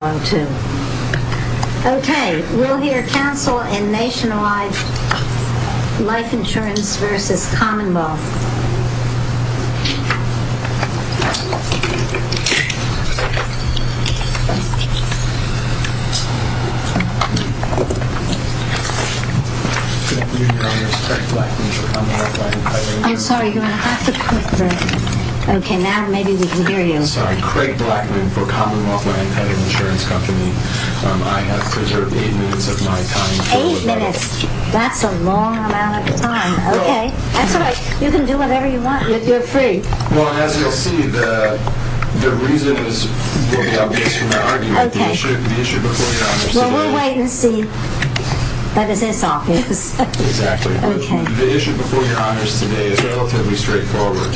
Okay, we'll hear Council and Nationwide Life Insurance v. Commonwealth Land Title Insurance. I have preserved 8 minutes of my time. 8 minutes? That's a long amount of time. Okay, that's all right. You can do whatever you want. You're free. Well, as you'll see, the reason is based on my argument. Okay. The issue before your honors today... Well, we'll wait and see. That is his office. Exactly. Okay. The issue before your honors today is relatively straightforward.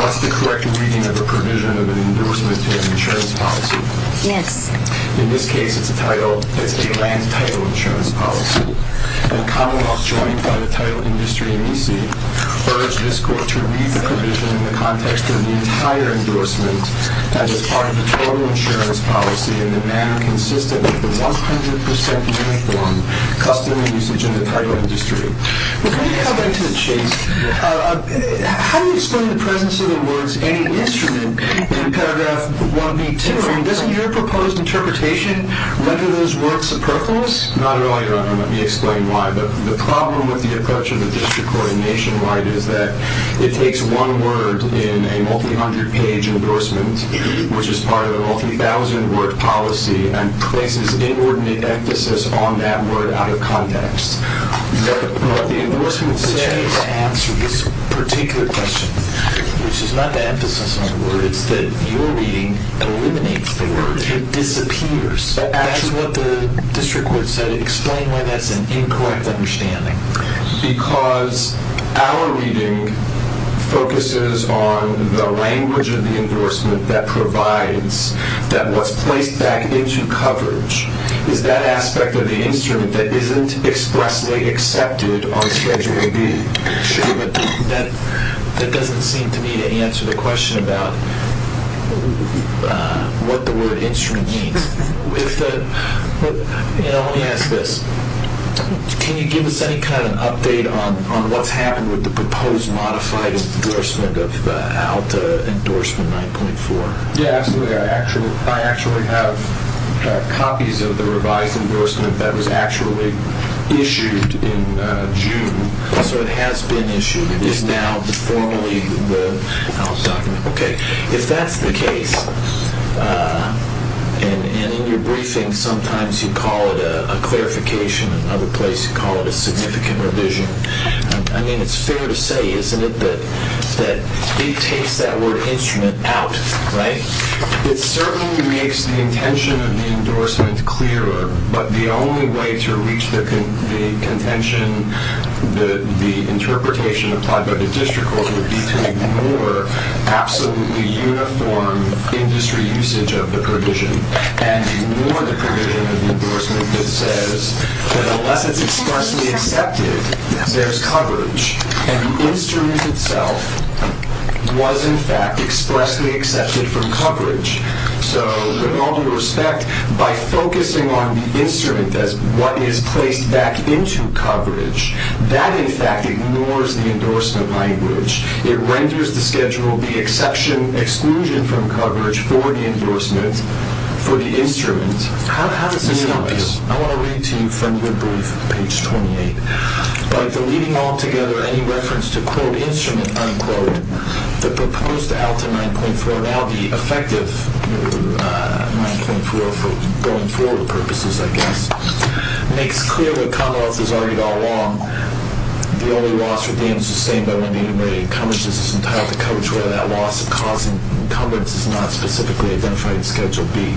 What's the correct reading of a provision of an endorsement to an insurance policy? Yes. In this case, it's a title, it's a land title insurance policy. And Commonwealth, joined by the title industry and EC, urged this court to read the provision in the context of the entire endorsement as part of the total insurance policy in the manner consistent with the 100% uniform customary usage in the title industry. Before we go back to the chase, how do you explain the presence of the words any instrument in paragraph 1B10? Doesn't your proposed interpretation render those words superfluous? Not really, your honor. Let me explain why. The problem with the approach of the district court in Nationwide is that it takes one word in a multi-hundred page endorsement, which is part of the multi-thousand word policy, and places inordinate emphasis on that word out of context. What the endorsement says to answer this particular question, which is not the emphasis on the word, it's that your reading eliminates the word. It disappears. That is what the district court said. Explain why that's an incorrect understanding. Because our reading focuses on the language of the endorsement that provides, that was placed back into coverage. It's that aspect of the instrument that isn't expressly accepted on Schedule B. That doesn't seem to me to answer the question about what the word instrument means. Let me ask this. Can you give us any kind of update on what's happened with the proposed modified endorsement of the ALTA endorsement 9.4? Yeah, absolutely. I actually have copies of the revised endorsement that was actually issued in June. So it has been issued. It is now formally the ALTA document. Okay. If that's the case, and in your briefing sometimes you call it a clarification, in another place you call it a significant revision. I mean, it's fair to say, isn't it, that it takes that word instrument out, right? It certainly makes the intention of the endorsement clearer, but the only way to reach the contention, the interpretation applied by the district court would be to ignore absolutely uniform industry usage of the provision, and ignore the provision of the endorsement that says that unless it's expressly accepted, there's coverage. And the instrument itself was, in fact, expressly accepted for coverage. So, with all due respect, by focusing on the instrument as what is placed back into coverage, that, in fact, ignores the endorsement language. It renders the schedule the exception, exclusion from coverage for the endorsement, for the instrument. How does this help you? I want to read to you from your brief, page 28. By deleting altogether any reference to, quote, instrument, unquote, the proposed ALTA 9.4, now the effective 9.4 for going forward purposes, I guess, makes clear what Commonwealth has argued all along, the only loss for damage sustained by one being in ready encumbrance is entitled to coverage, whether that loss of cause in encumbrance is not specifically identified in Schedule B.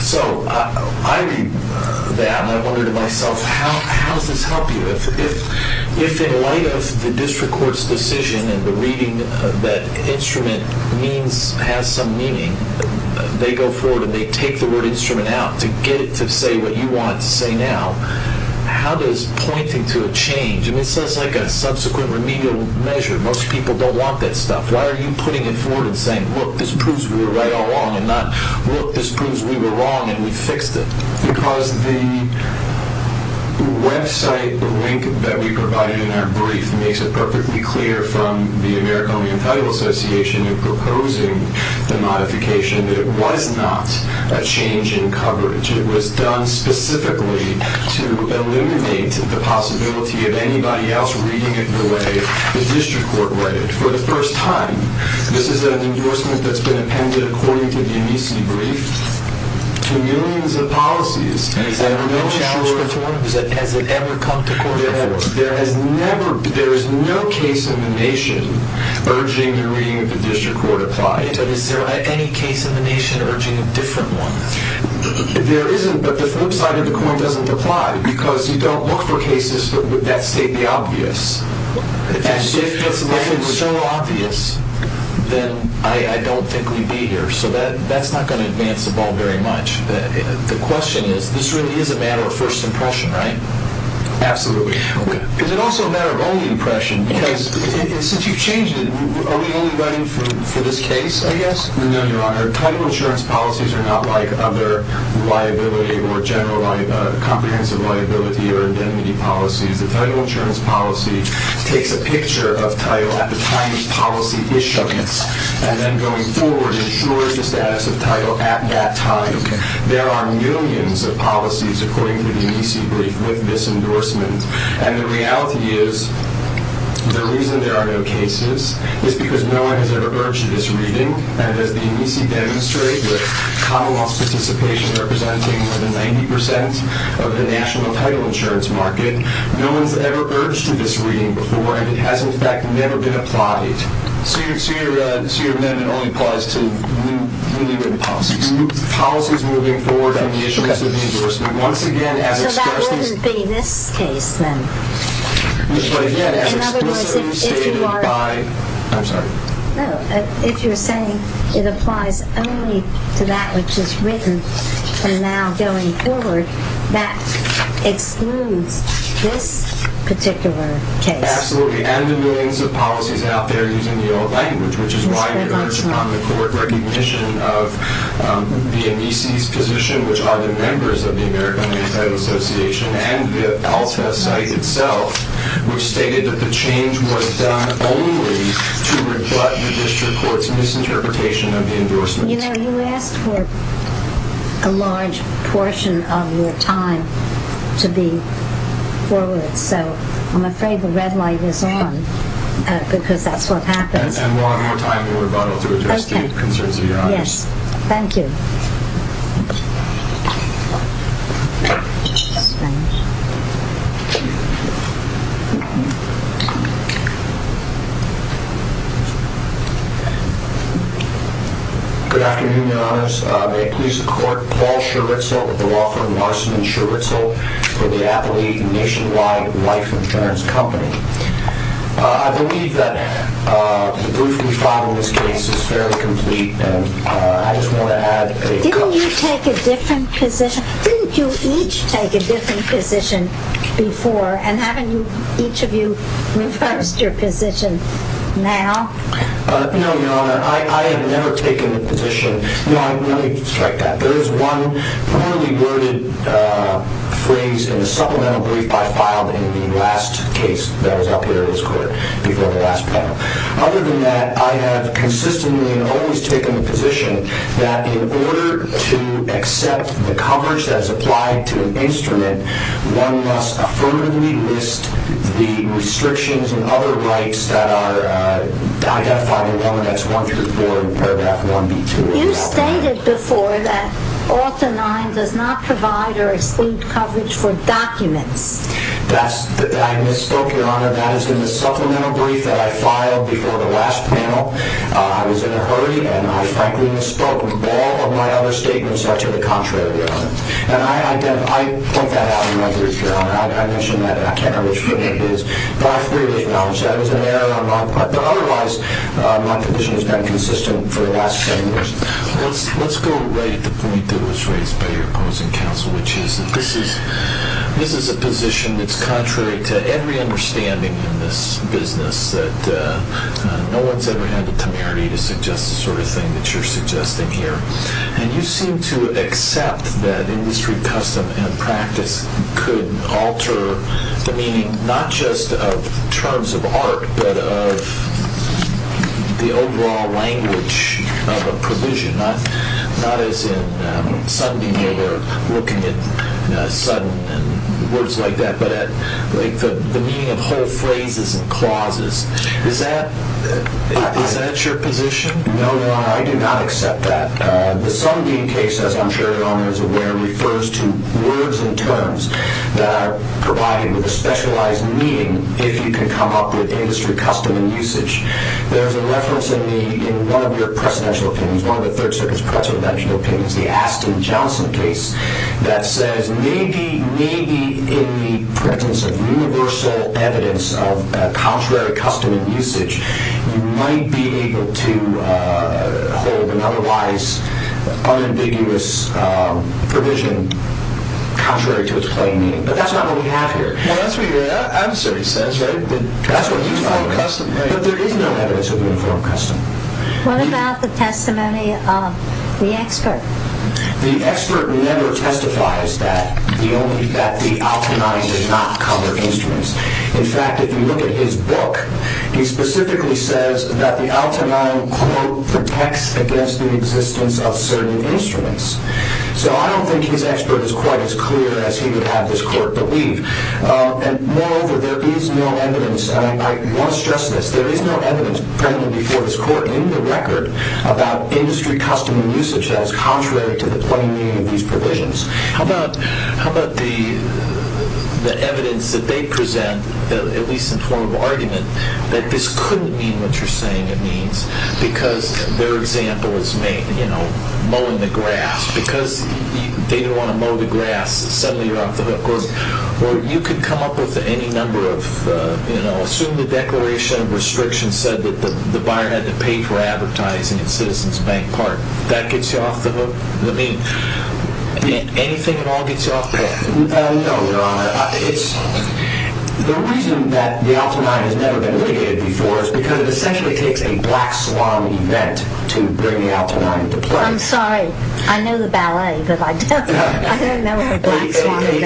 So, I read that, and I wonder to myself, how does this help you? If, in light of the district court's decision and the reading that instrument means, has some meaning, they go forward and they take the word instrument out to get it to say what you want it to say now, how does pointing to a change, and it says like a subsequent remedial measure, most people don't want that stuff, why are you putting it forward and saying, look, this proves we were right all along and not, look, this proves we were wrong and we fixed it? Because the website link that we provided in our brief makes it perfectly clear from the American Indian Title Association in proposing the modification that it was not a change in coverage. It was done specifically to eliminate the possibility of anybody else reading it the way the district court read it. For the first time, this is an endorsement that's been appended, according to the Amnesty brief, to millions of policies. Has it ever come to court before? There is no case in the nation urging the reading of the district court applied. Is there any case in the nation urging a different one? There isn't, but the flip side of the coin doesn't apply, because you don't look for cases that state the obvious. If it's so obvious, then I don't think we'd be here, so that's not going to advance the ball very much. The question is, this really is a matter of first impression, right? Absolutely. Is it also a matter of only impression? Because since you've changed it, are we only running for this case, I guess? No, Your Honor. Title insurance policies are not like other liability or general comprehensive liability or indemnity policies. The title insurance policy takes a picture of title at the time the policy is shown, and then going forward, ensures the status of title at that time. There are millions of policies, according to the Amnesty brief, with this endorsement. And the reality is the reason there are no cases is because no one has ever urged this reading. And as the Amnesty demonstrates, with Commonwealth participation representing more than 90% of the national title insurance market, no one has ever urged this reading before, and it has, in fact, never been applied. So your amendment only applies to newly written policies. New policies moving forward on the issuance of the endorsement. Once again, as expressed in this case. So that wouldn't be this case, then? In other words, if you are... I'm sorry. No, if you're saying it applies only to that which is written from now going forward, that excludes this particular case. Absolutely, and the millions of policies out there using the old language, which is why in regards to common court recognition of the Amnesty's position, which are the members of the American Asylum Association and the ALSA site itself, which stated that the change was done only to rebut the district court's misinterpretation of the endorsement. You know, you asked for a large portion of your time to be forward, so I'm afraid the red light is on because that's what happens. And we'll have more time in rebuttal to address the concerns of your audience. Yes, thank you. Good afternoon, Your Honors. May it please the Court, Paul Scherwitzel of the law firm Larsen & Scherwitzel for the Appley Nationwide Life Insurance Company. I believe that the brief we filed in this case is fairly complete, and I just want to add a couple of things. Didn't you each take a different position before, and haven't each of you reversed your position now? No, Your Honor, I have never taken a position. No, I really strike that. There is one poorly worded phrase in the supplemental brief I filed in the last case that was up here this quarter, before the last panel. Other than that, I have consistently and always taken the position that in order to accept the coverage that is applied to an instrument, one must affirmatively list the restrictions and other rights that are identified in 11X1 through 4 in paragraph 1B2. You stated before that Alta 9 does not provide or exclude coverage for documents. I misspoke, Your Honor. That is in the supplemental brief that I filed before the last panel. I was in a hurry, and I frankly misspoke. All of my other statements are to the contrary, Your Honor. And I point that out in my brief, Your Honor. I mentioned that I cannot reach for it, but I freely acknowledge that. Otherwise, my position has been consistent for the last 10 years. Let's go right to the point that was raised by your opposing counsel, which is that this is a position that is contrary to every understanding in this business, that no one has ever had the temerity to suggest the sort of thing that you are suggesting here. And you seem to accept that industry custom and practice could alter the meaning, not just of terms of art, but of the overall language of a provision, not as in Sundean, where we're looking at sudden and words like that, but the meaning of whole phrases and clauses. Is that your position? No, Your Honor, I do not accept that. The Sundean case, as I'm sure Your Honor is aware, refers to words and terms that are provided with a specialized meaning if you can come up with industry custom and usage. There's a reference in one of your presidential opinions, one of the Third Circuit's presidential opinions, the Aston Johnson case, that says maybe in the presence of universal evidence of contrary custom and usage, you might be able to hold an otherwise unambiguous provision contrary to its plain meaning. But that's not what we have here. Well, that's what your answer says, right? That's what uniform custom means. But there is no evidence of uniform custom. What about the testimony of the expert? The expert never testifies that the alchemy does not cover instruments. In fact, if you look at his book, he specifically says that the alchemy, quote, protects against the existence of certain instruments. So I don't think his expert is quite as clear as he would have this court believe. And moreover, there is no evidence, and I want to stress this, there is no evidence presently before this court in the record about industry custom and usage that is contrary to the plain meaning of these provisions. How about the evidence that they present, at least in form of argument, that this couldn't mean what you're saying it means, because their example is mowing the grass. Because they didn't want to mow the grass, suddenly you're off the hook. Or you could come up with any number of, you know, assume the Declaration of Restriction said that the buyer had to pay for advertising at Citizens Bank Park. That gets you off the hook? Anything at all gets you off the hook? No, Your Honor. The reason that the Altenheim has never been litigated before is because it essentially takes a black swan event to bring the Altenheim to play. I'm sorry. I know the ballet, but I don't know of a black swan event. But it's an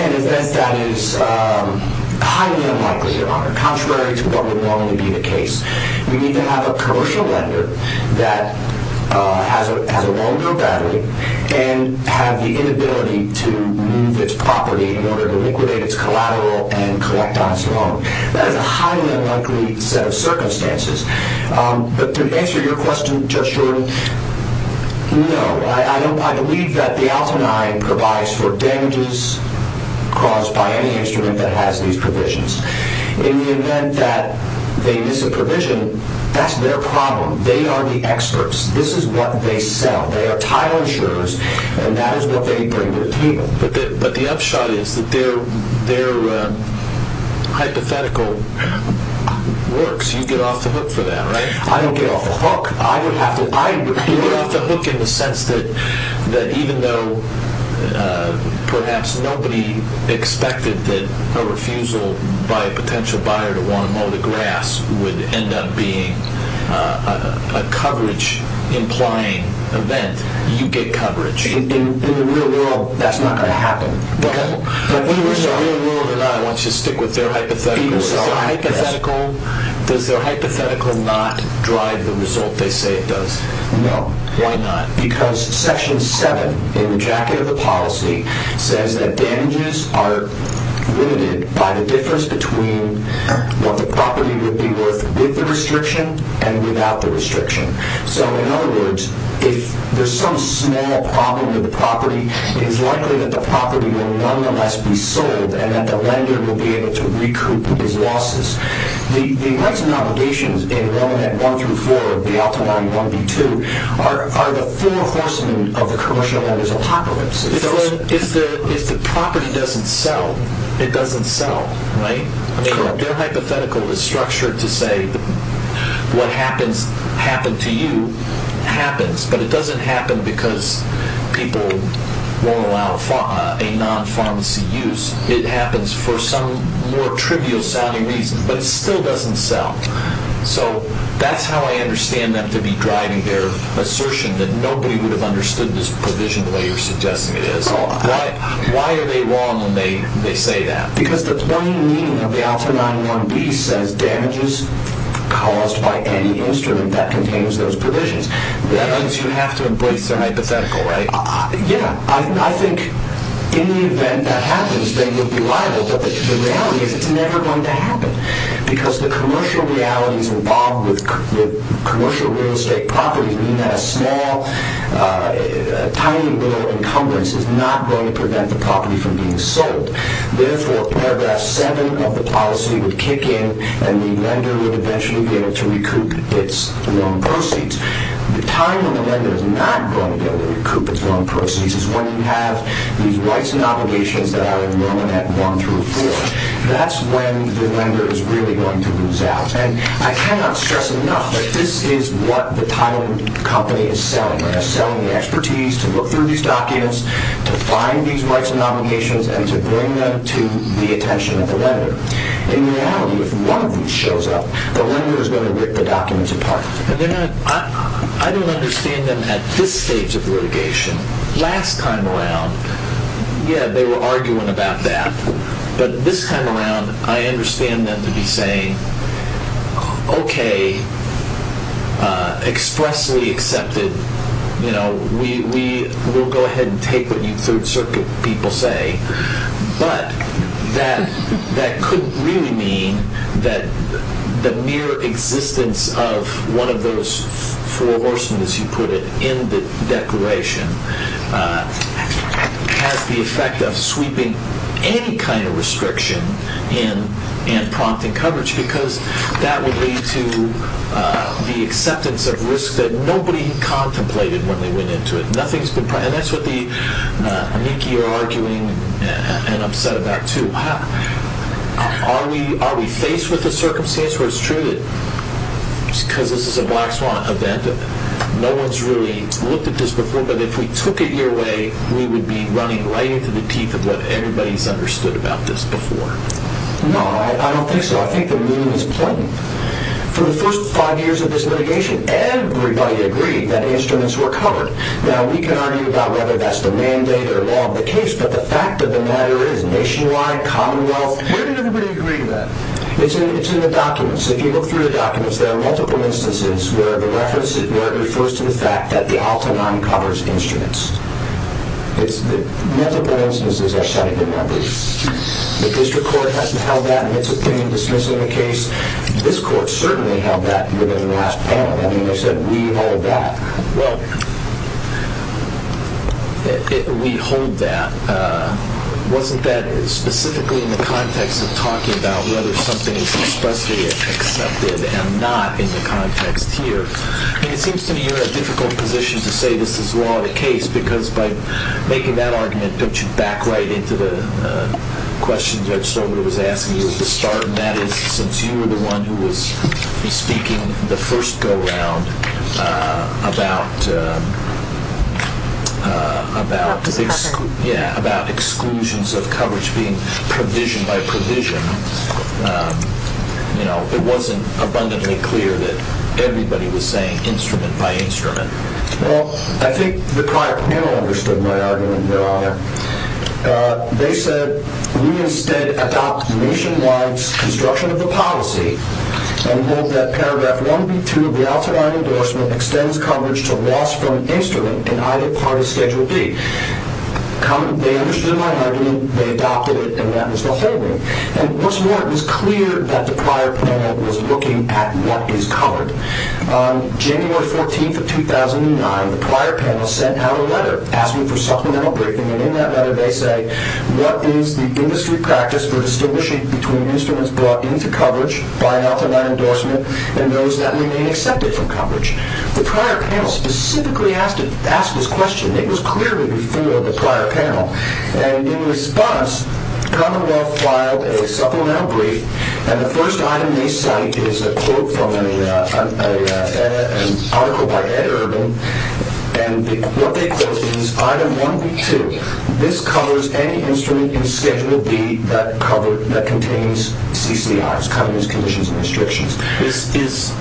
event that is highly unlikely, Your Honor, contrary to what would normally be the case. You need to have a commercial lender that has a long-due battery and have the inability to remove its property in order to liquidate its collateral and collect on its own. That is a highly unlikely set of circumstances. But to answer your question, Your Honor, no. I believe that the Altenheim provides for damages caused by any instrument that has these provisions. In the event that they miss a provision, that's their problem. They are the experts. This is what they sell. They are title insurers, and that is what they bring to the table. But the upshot is that their hypothetical works. You get off the hook for that, right? I don't get off the hook. You get off the hook in the sense that even though perhaps nobody expected that a refusal by a potential buyer to want to mow the grass would end up being a coverage-implying event, you get coverage. In the real world, that's not going to happen. In the real world or not, I want you to stick with their hypothetical. Does their hypothetical not drive the result they say it does? No. Why not? Because Section 7 in the jacket of the policy says that damages are limited by the difference between what the property would be worth with the restriction and without the restriction. So in other words, if there's some small problem with the property, it is likely that the property will nonetheless be sold and that the lender will be able to recoup his losses. The rights and obligations in Roman at 1 through 4 of the Altamonte 1B2 are the four horsemen of the commercial owners' apocalypse. If the property doesn't sell, it doesn't sell, right? Their hypothetical is structured to say what happened to you happens, but it doesn't happen because people won't allow a non-pharmacy use. It happens for some more trivial sounding reason, but it still doesn't sell. So that's how I understand them to be driving their assertion that nobody would have understood this provision the way you're suggesting it is. Why are they wrong when they say that? Because the plain meaning of the Altamonte 1B says damages caused by any instrument that contains those provisions. That means you have to embrace their hypothetical, right? Yeah, I think in the event that happens, they would be liable, but the reality is it's never going to happen because the commercial realities involved with commercial real estate properties mean that a small, tiny little encumbrance is not going to prevent the property from being sold. Therefore, paragraph 7 of the policy would kick in and the lender would eventually be able to recoup its loan proceeds. The time when the lender is not going to be able to recoup its loan proceeds is when you have these rights and obligations that are at 1 through 4. That's when the lender is really going to lose out. And I cannot stress enough that this is what the title of the company is selling. They're selling the expertise to look through these documents, to find these rights and obligations, and to bring them to the attention of the lender. In reality, if one of these shows up, the lender is going to rip the documents apart. I don't understand them at this stage of litigation. Last time around, yeah, they were arguing about that. But this time around, I understand them to be saying, okay, expressly accepted, we'll go ahead and take what you Third Circuit people say, but that couldn't really mean that the mere existence of one of those four horsemen, as you put it, in the declaration has the effect of sweeping any kind of restriction and prompting coverage, because that would lead to the acceptance of risk that nobody contemplated when they went into it. And that's what the amici are arguing and upset about, too. Are we faced with a circumstance where it's true that, because this is a black swan event, no one's really looked at this before, but if we took it your way, we would be running right into the teeth of what everybody's understood about this before? No, I don't think so. I think the meaning is plain. For the first five years of this litigation, everybody agreed that instruments were covered. Now, we can argue about whether that's the mandate or law of the case, but the fact of the matter is, nationwide, commonwealth, where did everybody agree to that? It's in the documents. If you look through the documents, there are multiple instances where the reference refers to the fact that the Al-Tanan covers instruments. Multiple instances are cited in that case. The district court hasn't held that in its opinion dismissing the case. This court certainly held that during the last panel. I mean, they said, we hold that. Well, we hold that. Wasn't that specifically in the context of talking about whether something is expressly accepted and not in the context here? I mean, it seems to me you're in a difficult position to say this is law of the case because by making that argument, it put you back right into the question Judge Stormwater was asking you at the start, and that is, since you were the one who was speaking the first go-round about exclusions of coverage being provision by provision, it wasn't abundantly clear that everybody was saying instrument by instrument. Well, I think the prior panel understood my argument, Your Honor. They said, we instead adopt nationwide's construction of the policy and hold that Paragraph 1B2 of the Al-Tanan endorsement extends coverage to loss from instrument in either party's Schedule D. They understood my argument. They adopted it, and that was the whole thing. And what's more, it was clear that the prior panel was looking at what is covered. On January 14th of 2009, the prior panel sent out a letter asking for supplemental briefing, and in that letter they say, what is the industry practice for distinguishing between instruments brought into coverage by an Al-Tanan endorsement and those that remain accepted for coverage? The prior panel specifically asked this question. It was clearly before the prior panel. And in response, Commonwealth filed a supplemental brief, and the first item they cite is a quote from an article by Ed Urban, and what they quoted is Item 1B2. This covers any instrument in Schedule D that contains CCRs, Covenants, Conditions, and Restrictions. This is...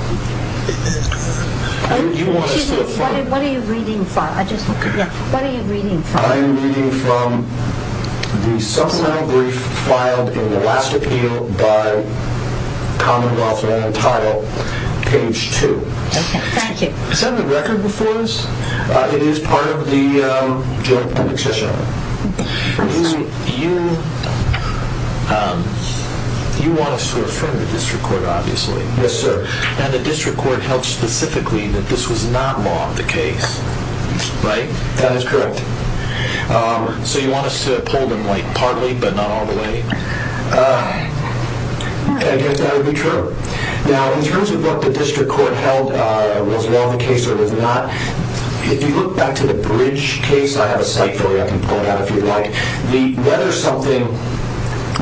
What are you reading from? What are you reading from? I am reading from the supplemental brief filed in the last appeal by Commonwealth and entitled Page 2. Okay, thank you. Does that have a record before us? It is part of the Joint Public Session. You want us to affirm the district court, obviously. Yes, sir. And the district court held specifically that this was not law of the case, right? That is correct. So you want us to pull them partly, but not all the way? Okay, I think that would be true. Now, in terms of what the district court held was law of the case or was not, if you look back to the Bridge case, I have a cite for you. I can pull it out if you like. Whether something,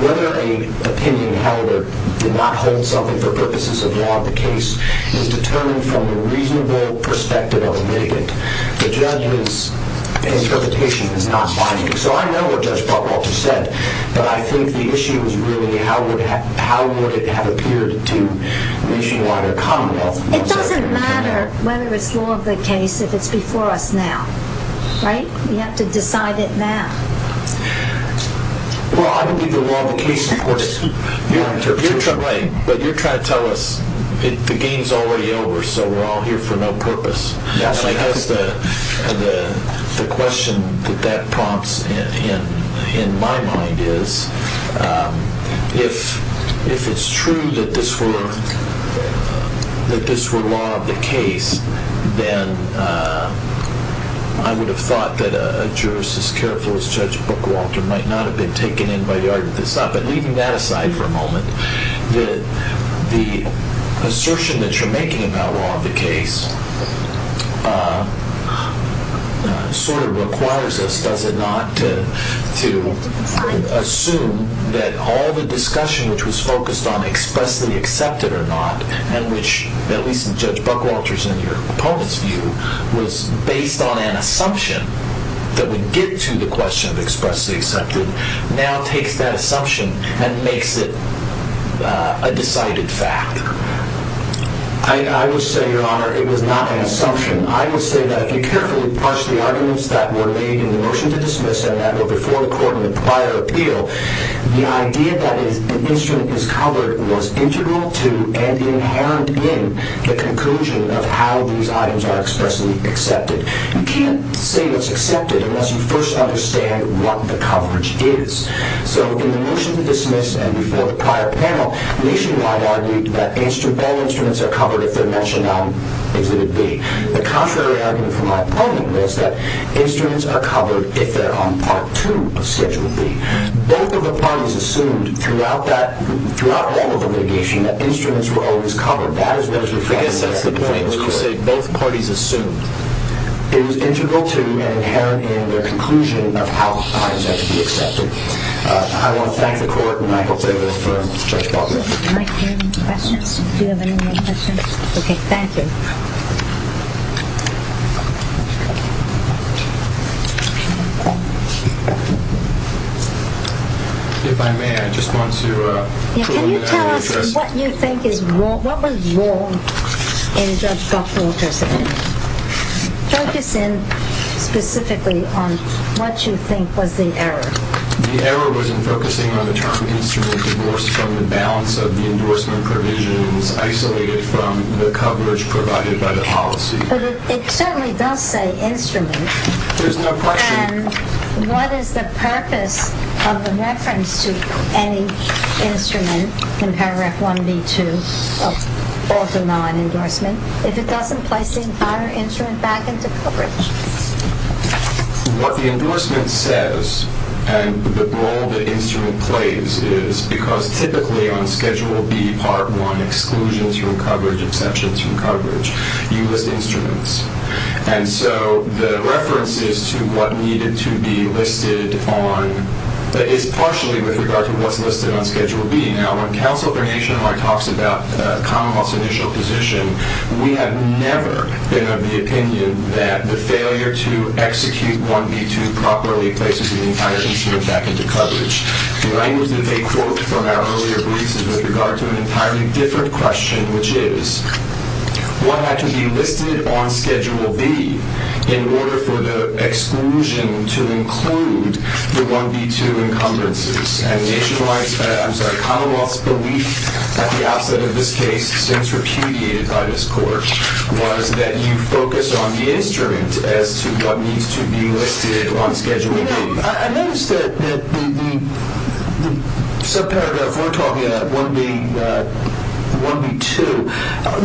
whether an opinion held or did not hold something for purposes of law of the case is determined from the reasonable perspective of a litigant. The judge's interpretation is not binding. So I know what Judge Butler just said, but I think the issue is really how would it have appeared to Nationwide or Commonwealth. It doesn't matter whether it's law of the case if it's before us now, right? We have to decide it now. Well, I don't think the law of the case supports it. You're trying to tell us the game is already over, so we're all here for no purpose. I guess the question that that prompts in my mind is if it's true that this were law of the case, then I would have thought that a jurist as careful as Judge Bookwalter might not have been taken in by the argument that stopped. The assertion that you're making about law of the case sort of requires us, does it not, to assume that all the discussion which was focused on expressly accepted or not and which, at least in Judge Bookwalter's and your opponent's view, was based on an assumption that would get to the question of expressly accepted now takes that assumption and makes it a decided fact? I would say, Your Honor, it was not an assumption. I would say that if you carefully parse the arguments that were made in the motion to dismiss and that were before the court in the prior appeal, the idea that an instrument is covered was integral to and inherent in the conclusion of how these items are expressly accepted. You can't say what's accepted unless you first understand what the coverage is. So in the motion to dismiss and before the prior panel, Nationwide argued that all instruments are covered if they're mentioned on Exhibit B. The contrary argument from my opponent was that instruments are covered if they're on Part 2 of Schedule B. Both of the parties assumed throughout all of the litigation that instruments were always covered. I guess that's the point. We say both parties assumed. It was integral to and inherent in their conclusion of how items have to be accepted. I want to thank the court and I hope they will affirm Judge Bookwalter. Do you have any questions? Do you have any more questions? Okay, thank you. If I may, I just want to... Can you tell us what you think is wrong, what was wrong in Judge Bookwalter's opinion? Focus in specifically on what you think was the error. The error was in focusing on the term instrument divorced from the balance of the endorsement provisions isolated from the coverage provided by the policy. But it certainly does say instrument. There's no question. And what is the purpose of the reference to any instrument in Paragraph 1B2 of the non-endorsement if it doesn't place the entire instrument back into coverage? What the endorsement says and the role the instrument plays is because typically on Schedule B, Part 1, exclusions from coverage, exceptions from coverage, you list instruments. And so the reference is to what needed to be listed on... is partially with regard to what's listed on Schedule B. Now, when Counsel for Nationhood talks about Commonwealth's initial position, we have never been of the opinion that the failure to execute 1B2 properly places the entire instrument back into coverage. The language that they quote from our earlier briefs is with regard to an entirely different question, which is, what had to be listed on Schedule B in order for the exclusion to include the 1B2 encumbrances? And Commonwealth's belief at the outset of this case, since repudiated by this Court, was that you focus on the instrument as to what needs to be listed on Schedule B. I noticed that the subparagraph we're talking about, 1B2,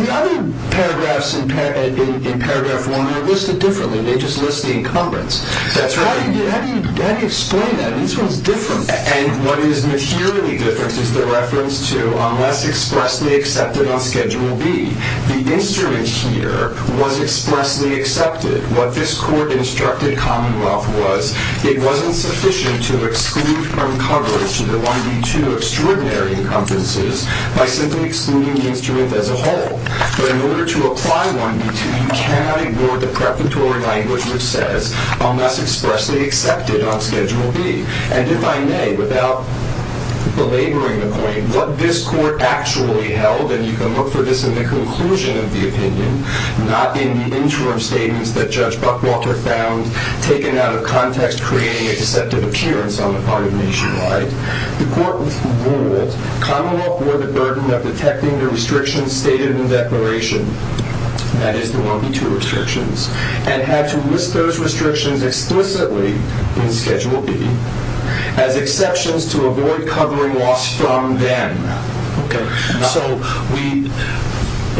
the other paragraphs in Paragraph 1 are listed differently. They just list the encumbrance. That's right. How do you explain that? These ones are different. And what is materially different is the reference to unless expressly accepted on Schedule B, the instrument here was expressly accepted. What this Court instructed Commonwealth was, it wasn't sufficient to exclude from coverage the 1B2 extraordinary encumbrances by simply excluding the instrument as a whole. But in order to apply 1B2, you cannot ignore the preparatory language which says, unless expressly accepted on Schedule B. And if I may, without belaboring the point, what this Court actually held, and you can look for this in the conclusion of the opinion, not in the interim statements that Judge Buckwalter found taken out of context, creating a deceptive appearance on the part of Nationwide, the Court ruled Commonwealth bore the burden of detecting the restrictions stated in the declaration, that is, the 1B2 restrictions, and had to list those restrictions explicitly in Schedule B as exceptions to avoid covering loss from then. Okay, so we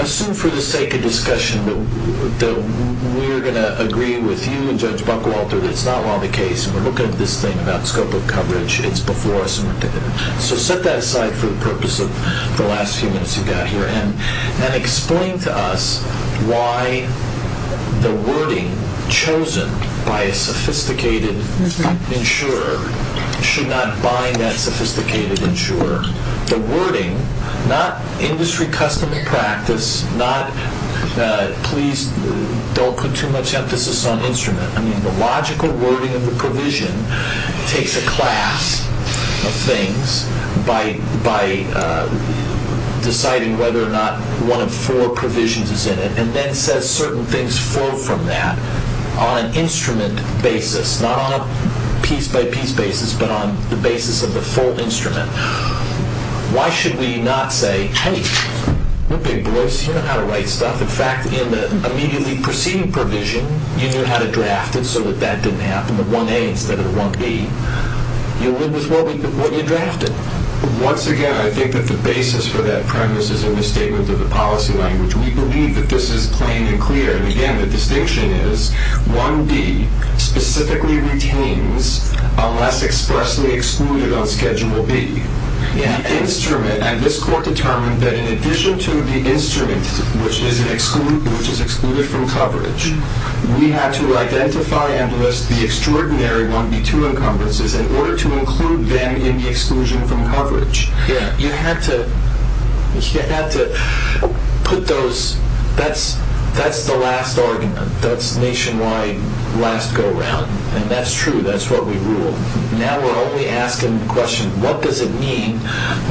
assume for the sake of discussion that we're going to agree with you and Judge Buckwalter that it's not really the case. We're looking at this thing about scope of coverage. It's before us. So set that aside for the purpose of the last few minutes you've got here. And explain to us why the wording chosen by a sophisticated insurer should not bind that sophisticated insurer. The wording, not industry custom practice, not please don't put too much emphasis on instrument. I mean, the logical wording of the provision takes a class of things by deciding whether or not one of four provisions is in it and then says certain things flow from that on an instrument basis, not on a piece-by-piece basis, but on the basis of the full instrument. Why should we not say, hey, we're big boys. You know how to write stuff. In fact, in the immediately preceding provision you knew how to draft it so that that didn't happen, the 1A instead of the 1B. You live with what you drafted. Once again, I think that the basis for that premise is in the statement of the policy language. We believe that this is plain and clear. And again, the distinction is 1B specifically retains unless expressly excluded on Schedule B. The instrument, and this court determined that in addition to the instrument, which is excluded from coverage, we have to identify and list the extraordinary 1B2 encumbrances in order to include them in the exclusion from coverage. You have to put those. That's the last argument. That's nationwide last go-round. And that's true. That's what we rule. Now we're only asking the question, what does it mean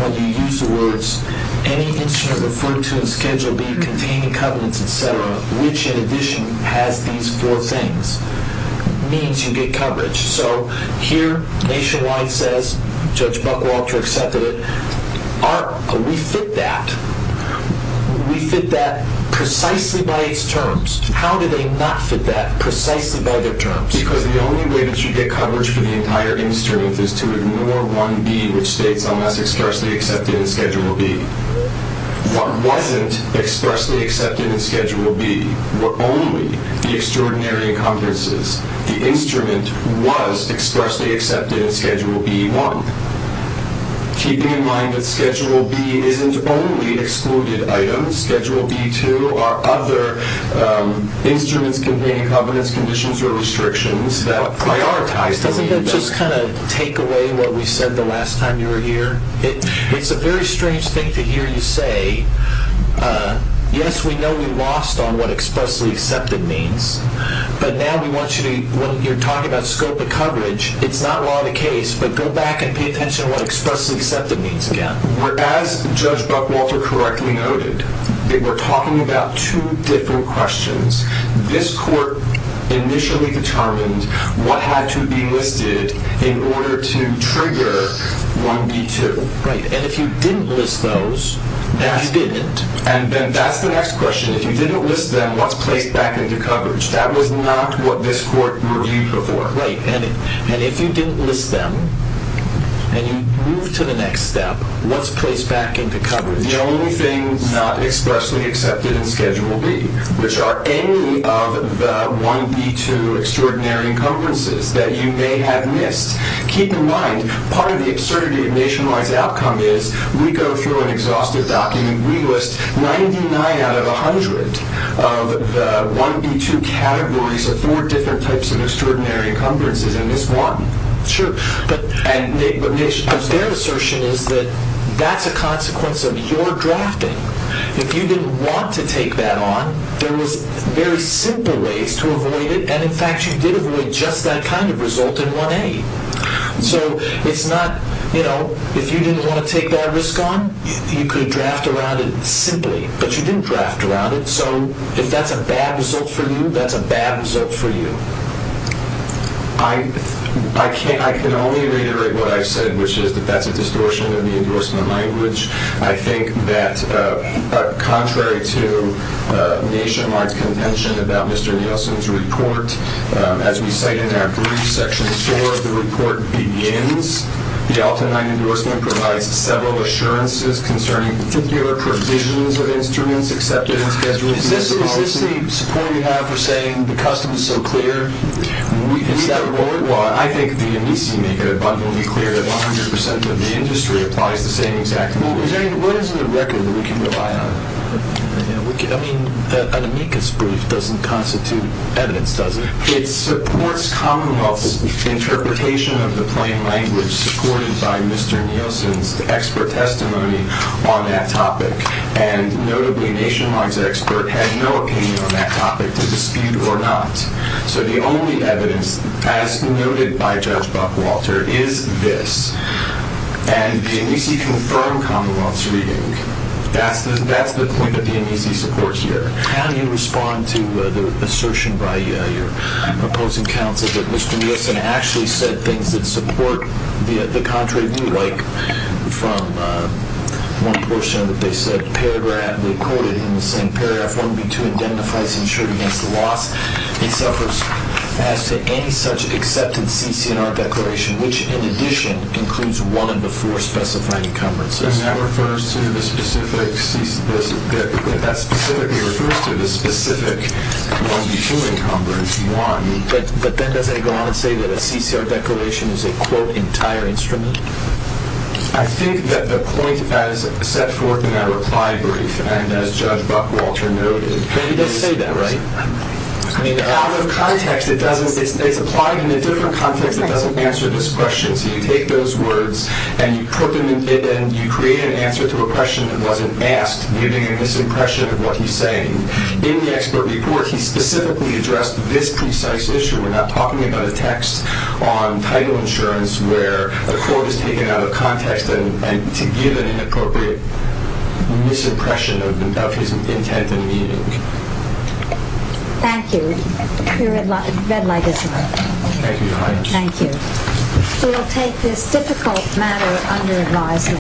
when you use the words any instrument referred to in Schedule B containing covenants, et cetera, which in addition has these four things, means you get coverage. So here nationwide says Judge Buckwalter accepted it. We fit that. We fit that precisely by its terms. How do they not fit that precisely by their terms? Because the only way that you get coverage for the entire instrument is to ignore 1B, which states unless expressly accepted in Schedule B. What wasn't expressly accepted in Schedule B were only the extraordinary encumbrances. The instrument was expressly accepted in Schedule B-1. Keeping in mind that Schedule B isn't only excluded items, Schedule B-2 are other instruments containing covenants, conditions, or restrictions that prioritize the 1B. Doesn't that just kind of take away what we said the last time you were here? It's a very strange thing to hear you say, yes, we know we lost on what expressly accepted means, but now we want you to, when you're talking about scope of coverage, it's not law of the case, but go back and pay attention to what expressly accepted means again. As Judge Buckwalter correctly noted, they were talking about two different questions. This court initially determined what had to be listed in order to trigger 1B-2. Right, and if you didn't list those, then you didn't. And then that's the next question. If you didn't list them, what's placed back into coverage? That was not what this court reviewed before. Right, and if you didn't list them, and you move to the next step, what's placed back into coverage? The only thing not expressly accepted in Schedule B, which are any of the 1B-2 extraordinary encumbrances that you may have missed. Keep in mind, part of the absurdity of Nationwide's outcome is we go through an exhaustive document. We list 99 out of 100 of the 1B-2 categories of four different types of extraordinary encumbrances in this one. Sure, but their assertion is that that's a consequence of your drafting. If you didn't want to take that on, there was very simple ways to avoid it, and in fact, you did avoid just that kind of result in 1A. So it's not, you know, if you didn't want to take that risk on, you could draft around it simply, but you didn't draft around it. So if that's a bad result for you, that's a bad result for you. I can only reiterate what I've said, which is that that's a distortion of the endorsement language. I think that contrary to Nationwide's contention about Mr. Nielsen's report, as we say in our brief, Section 4, the report begins, the Alpha 9 endorsement provides several assurances concerning particular provisions of instruments accepted as regular policy. Is this the support you have for saying the custom is so clear? Is that what we want? I think the amici make it abundantly clear that 100% of the industry applies the same exact rules. What is the record that we can rely on? I mean, an amicus brief doesn't constitute evidence, does it? It supports Commonwealth's interpretation of the plain language supported by Mr. Nielsen's expert testimony on that topic. And notably, Nationwide's expert had no opinion on that topic to dispute or not. So the only evidence, as noted by Judge Buckwalter, is this. And the amici confirm Commonwealth's reading. That's the point that the amici support here. How do you respond to the assertion by your opposing counsel that Mr. Nielsen actually said things that support the contrary view, like from one portion that they said, paragraph, they quoted in the same paragraph, 1B2, indemnifies insured against loss. He suffers as to any such accepted CCNR declaration, which in addition includes one of the four specified encumbrances. And that refers to the specific 1B2 encumbrance, 1. But then doesn't he go on and say that a CCR declaration is a, quote, entire instrument? I think that the point as set forth in that reply brief, and as Judge Buckwalter noted, He does say that, right? I mean, out of context. It's applied in a different context. It doesn't answer this question. So you take those words and you put them in, and you create an answer to a question that wasn't asked, giving a misimpression of what he's saying. In the expert report, he specifically addressed this precise issue. We're not talking about a text on title insurance where the court is taken out of context and to give an inappropriate misimpression of his intent and meaning. Thank you. The red light is on. Thank you. We will take this difficult matter under advisement.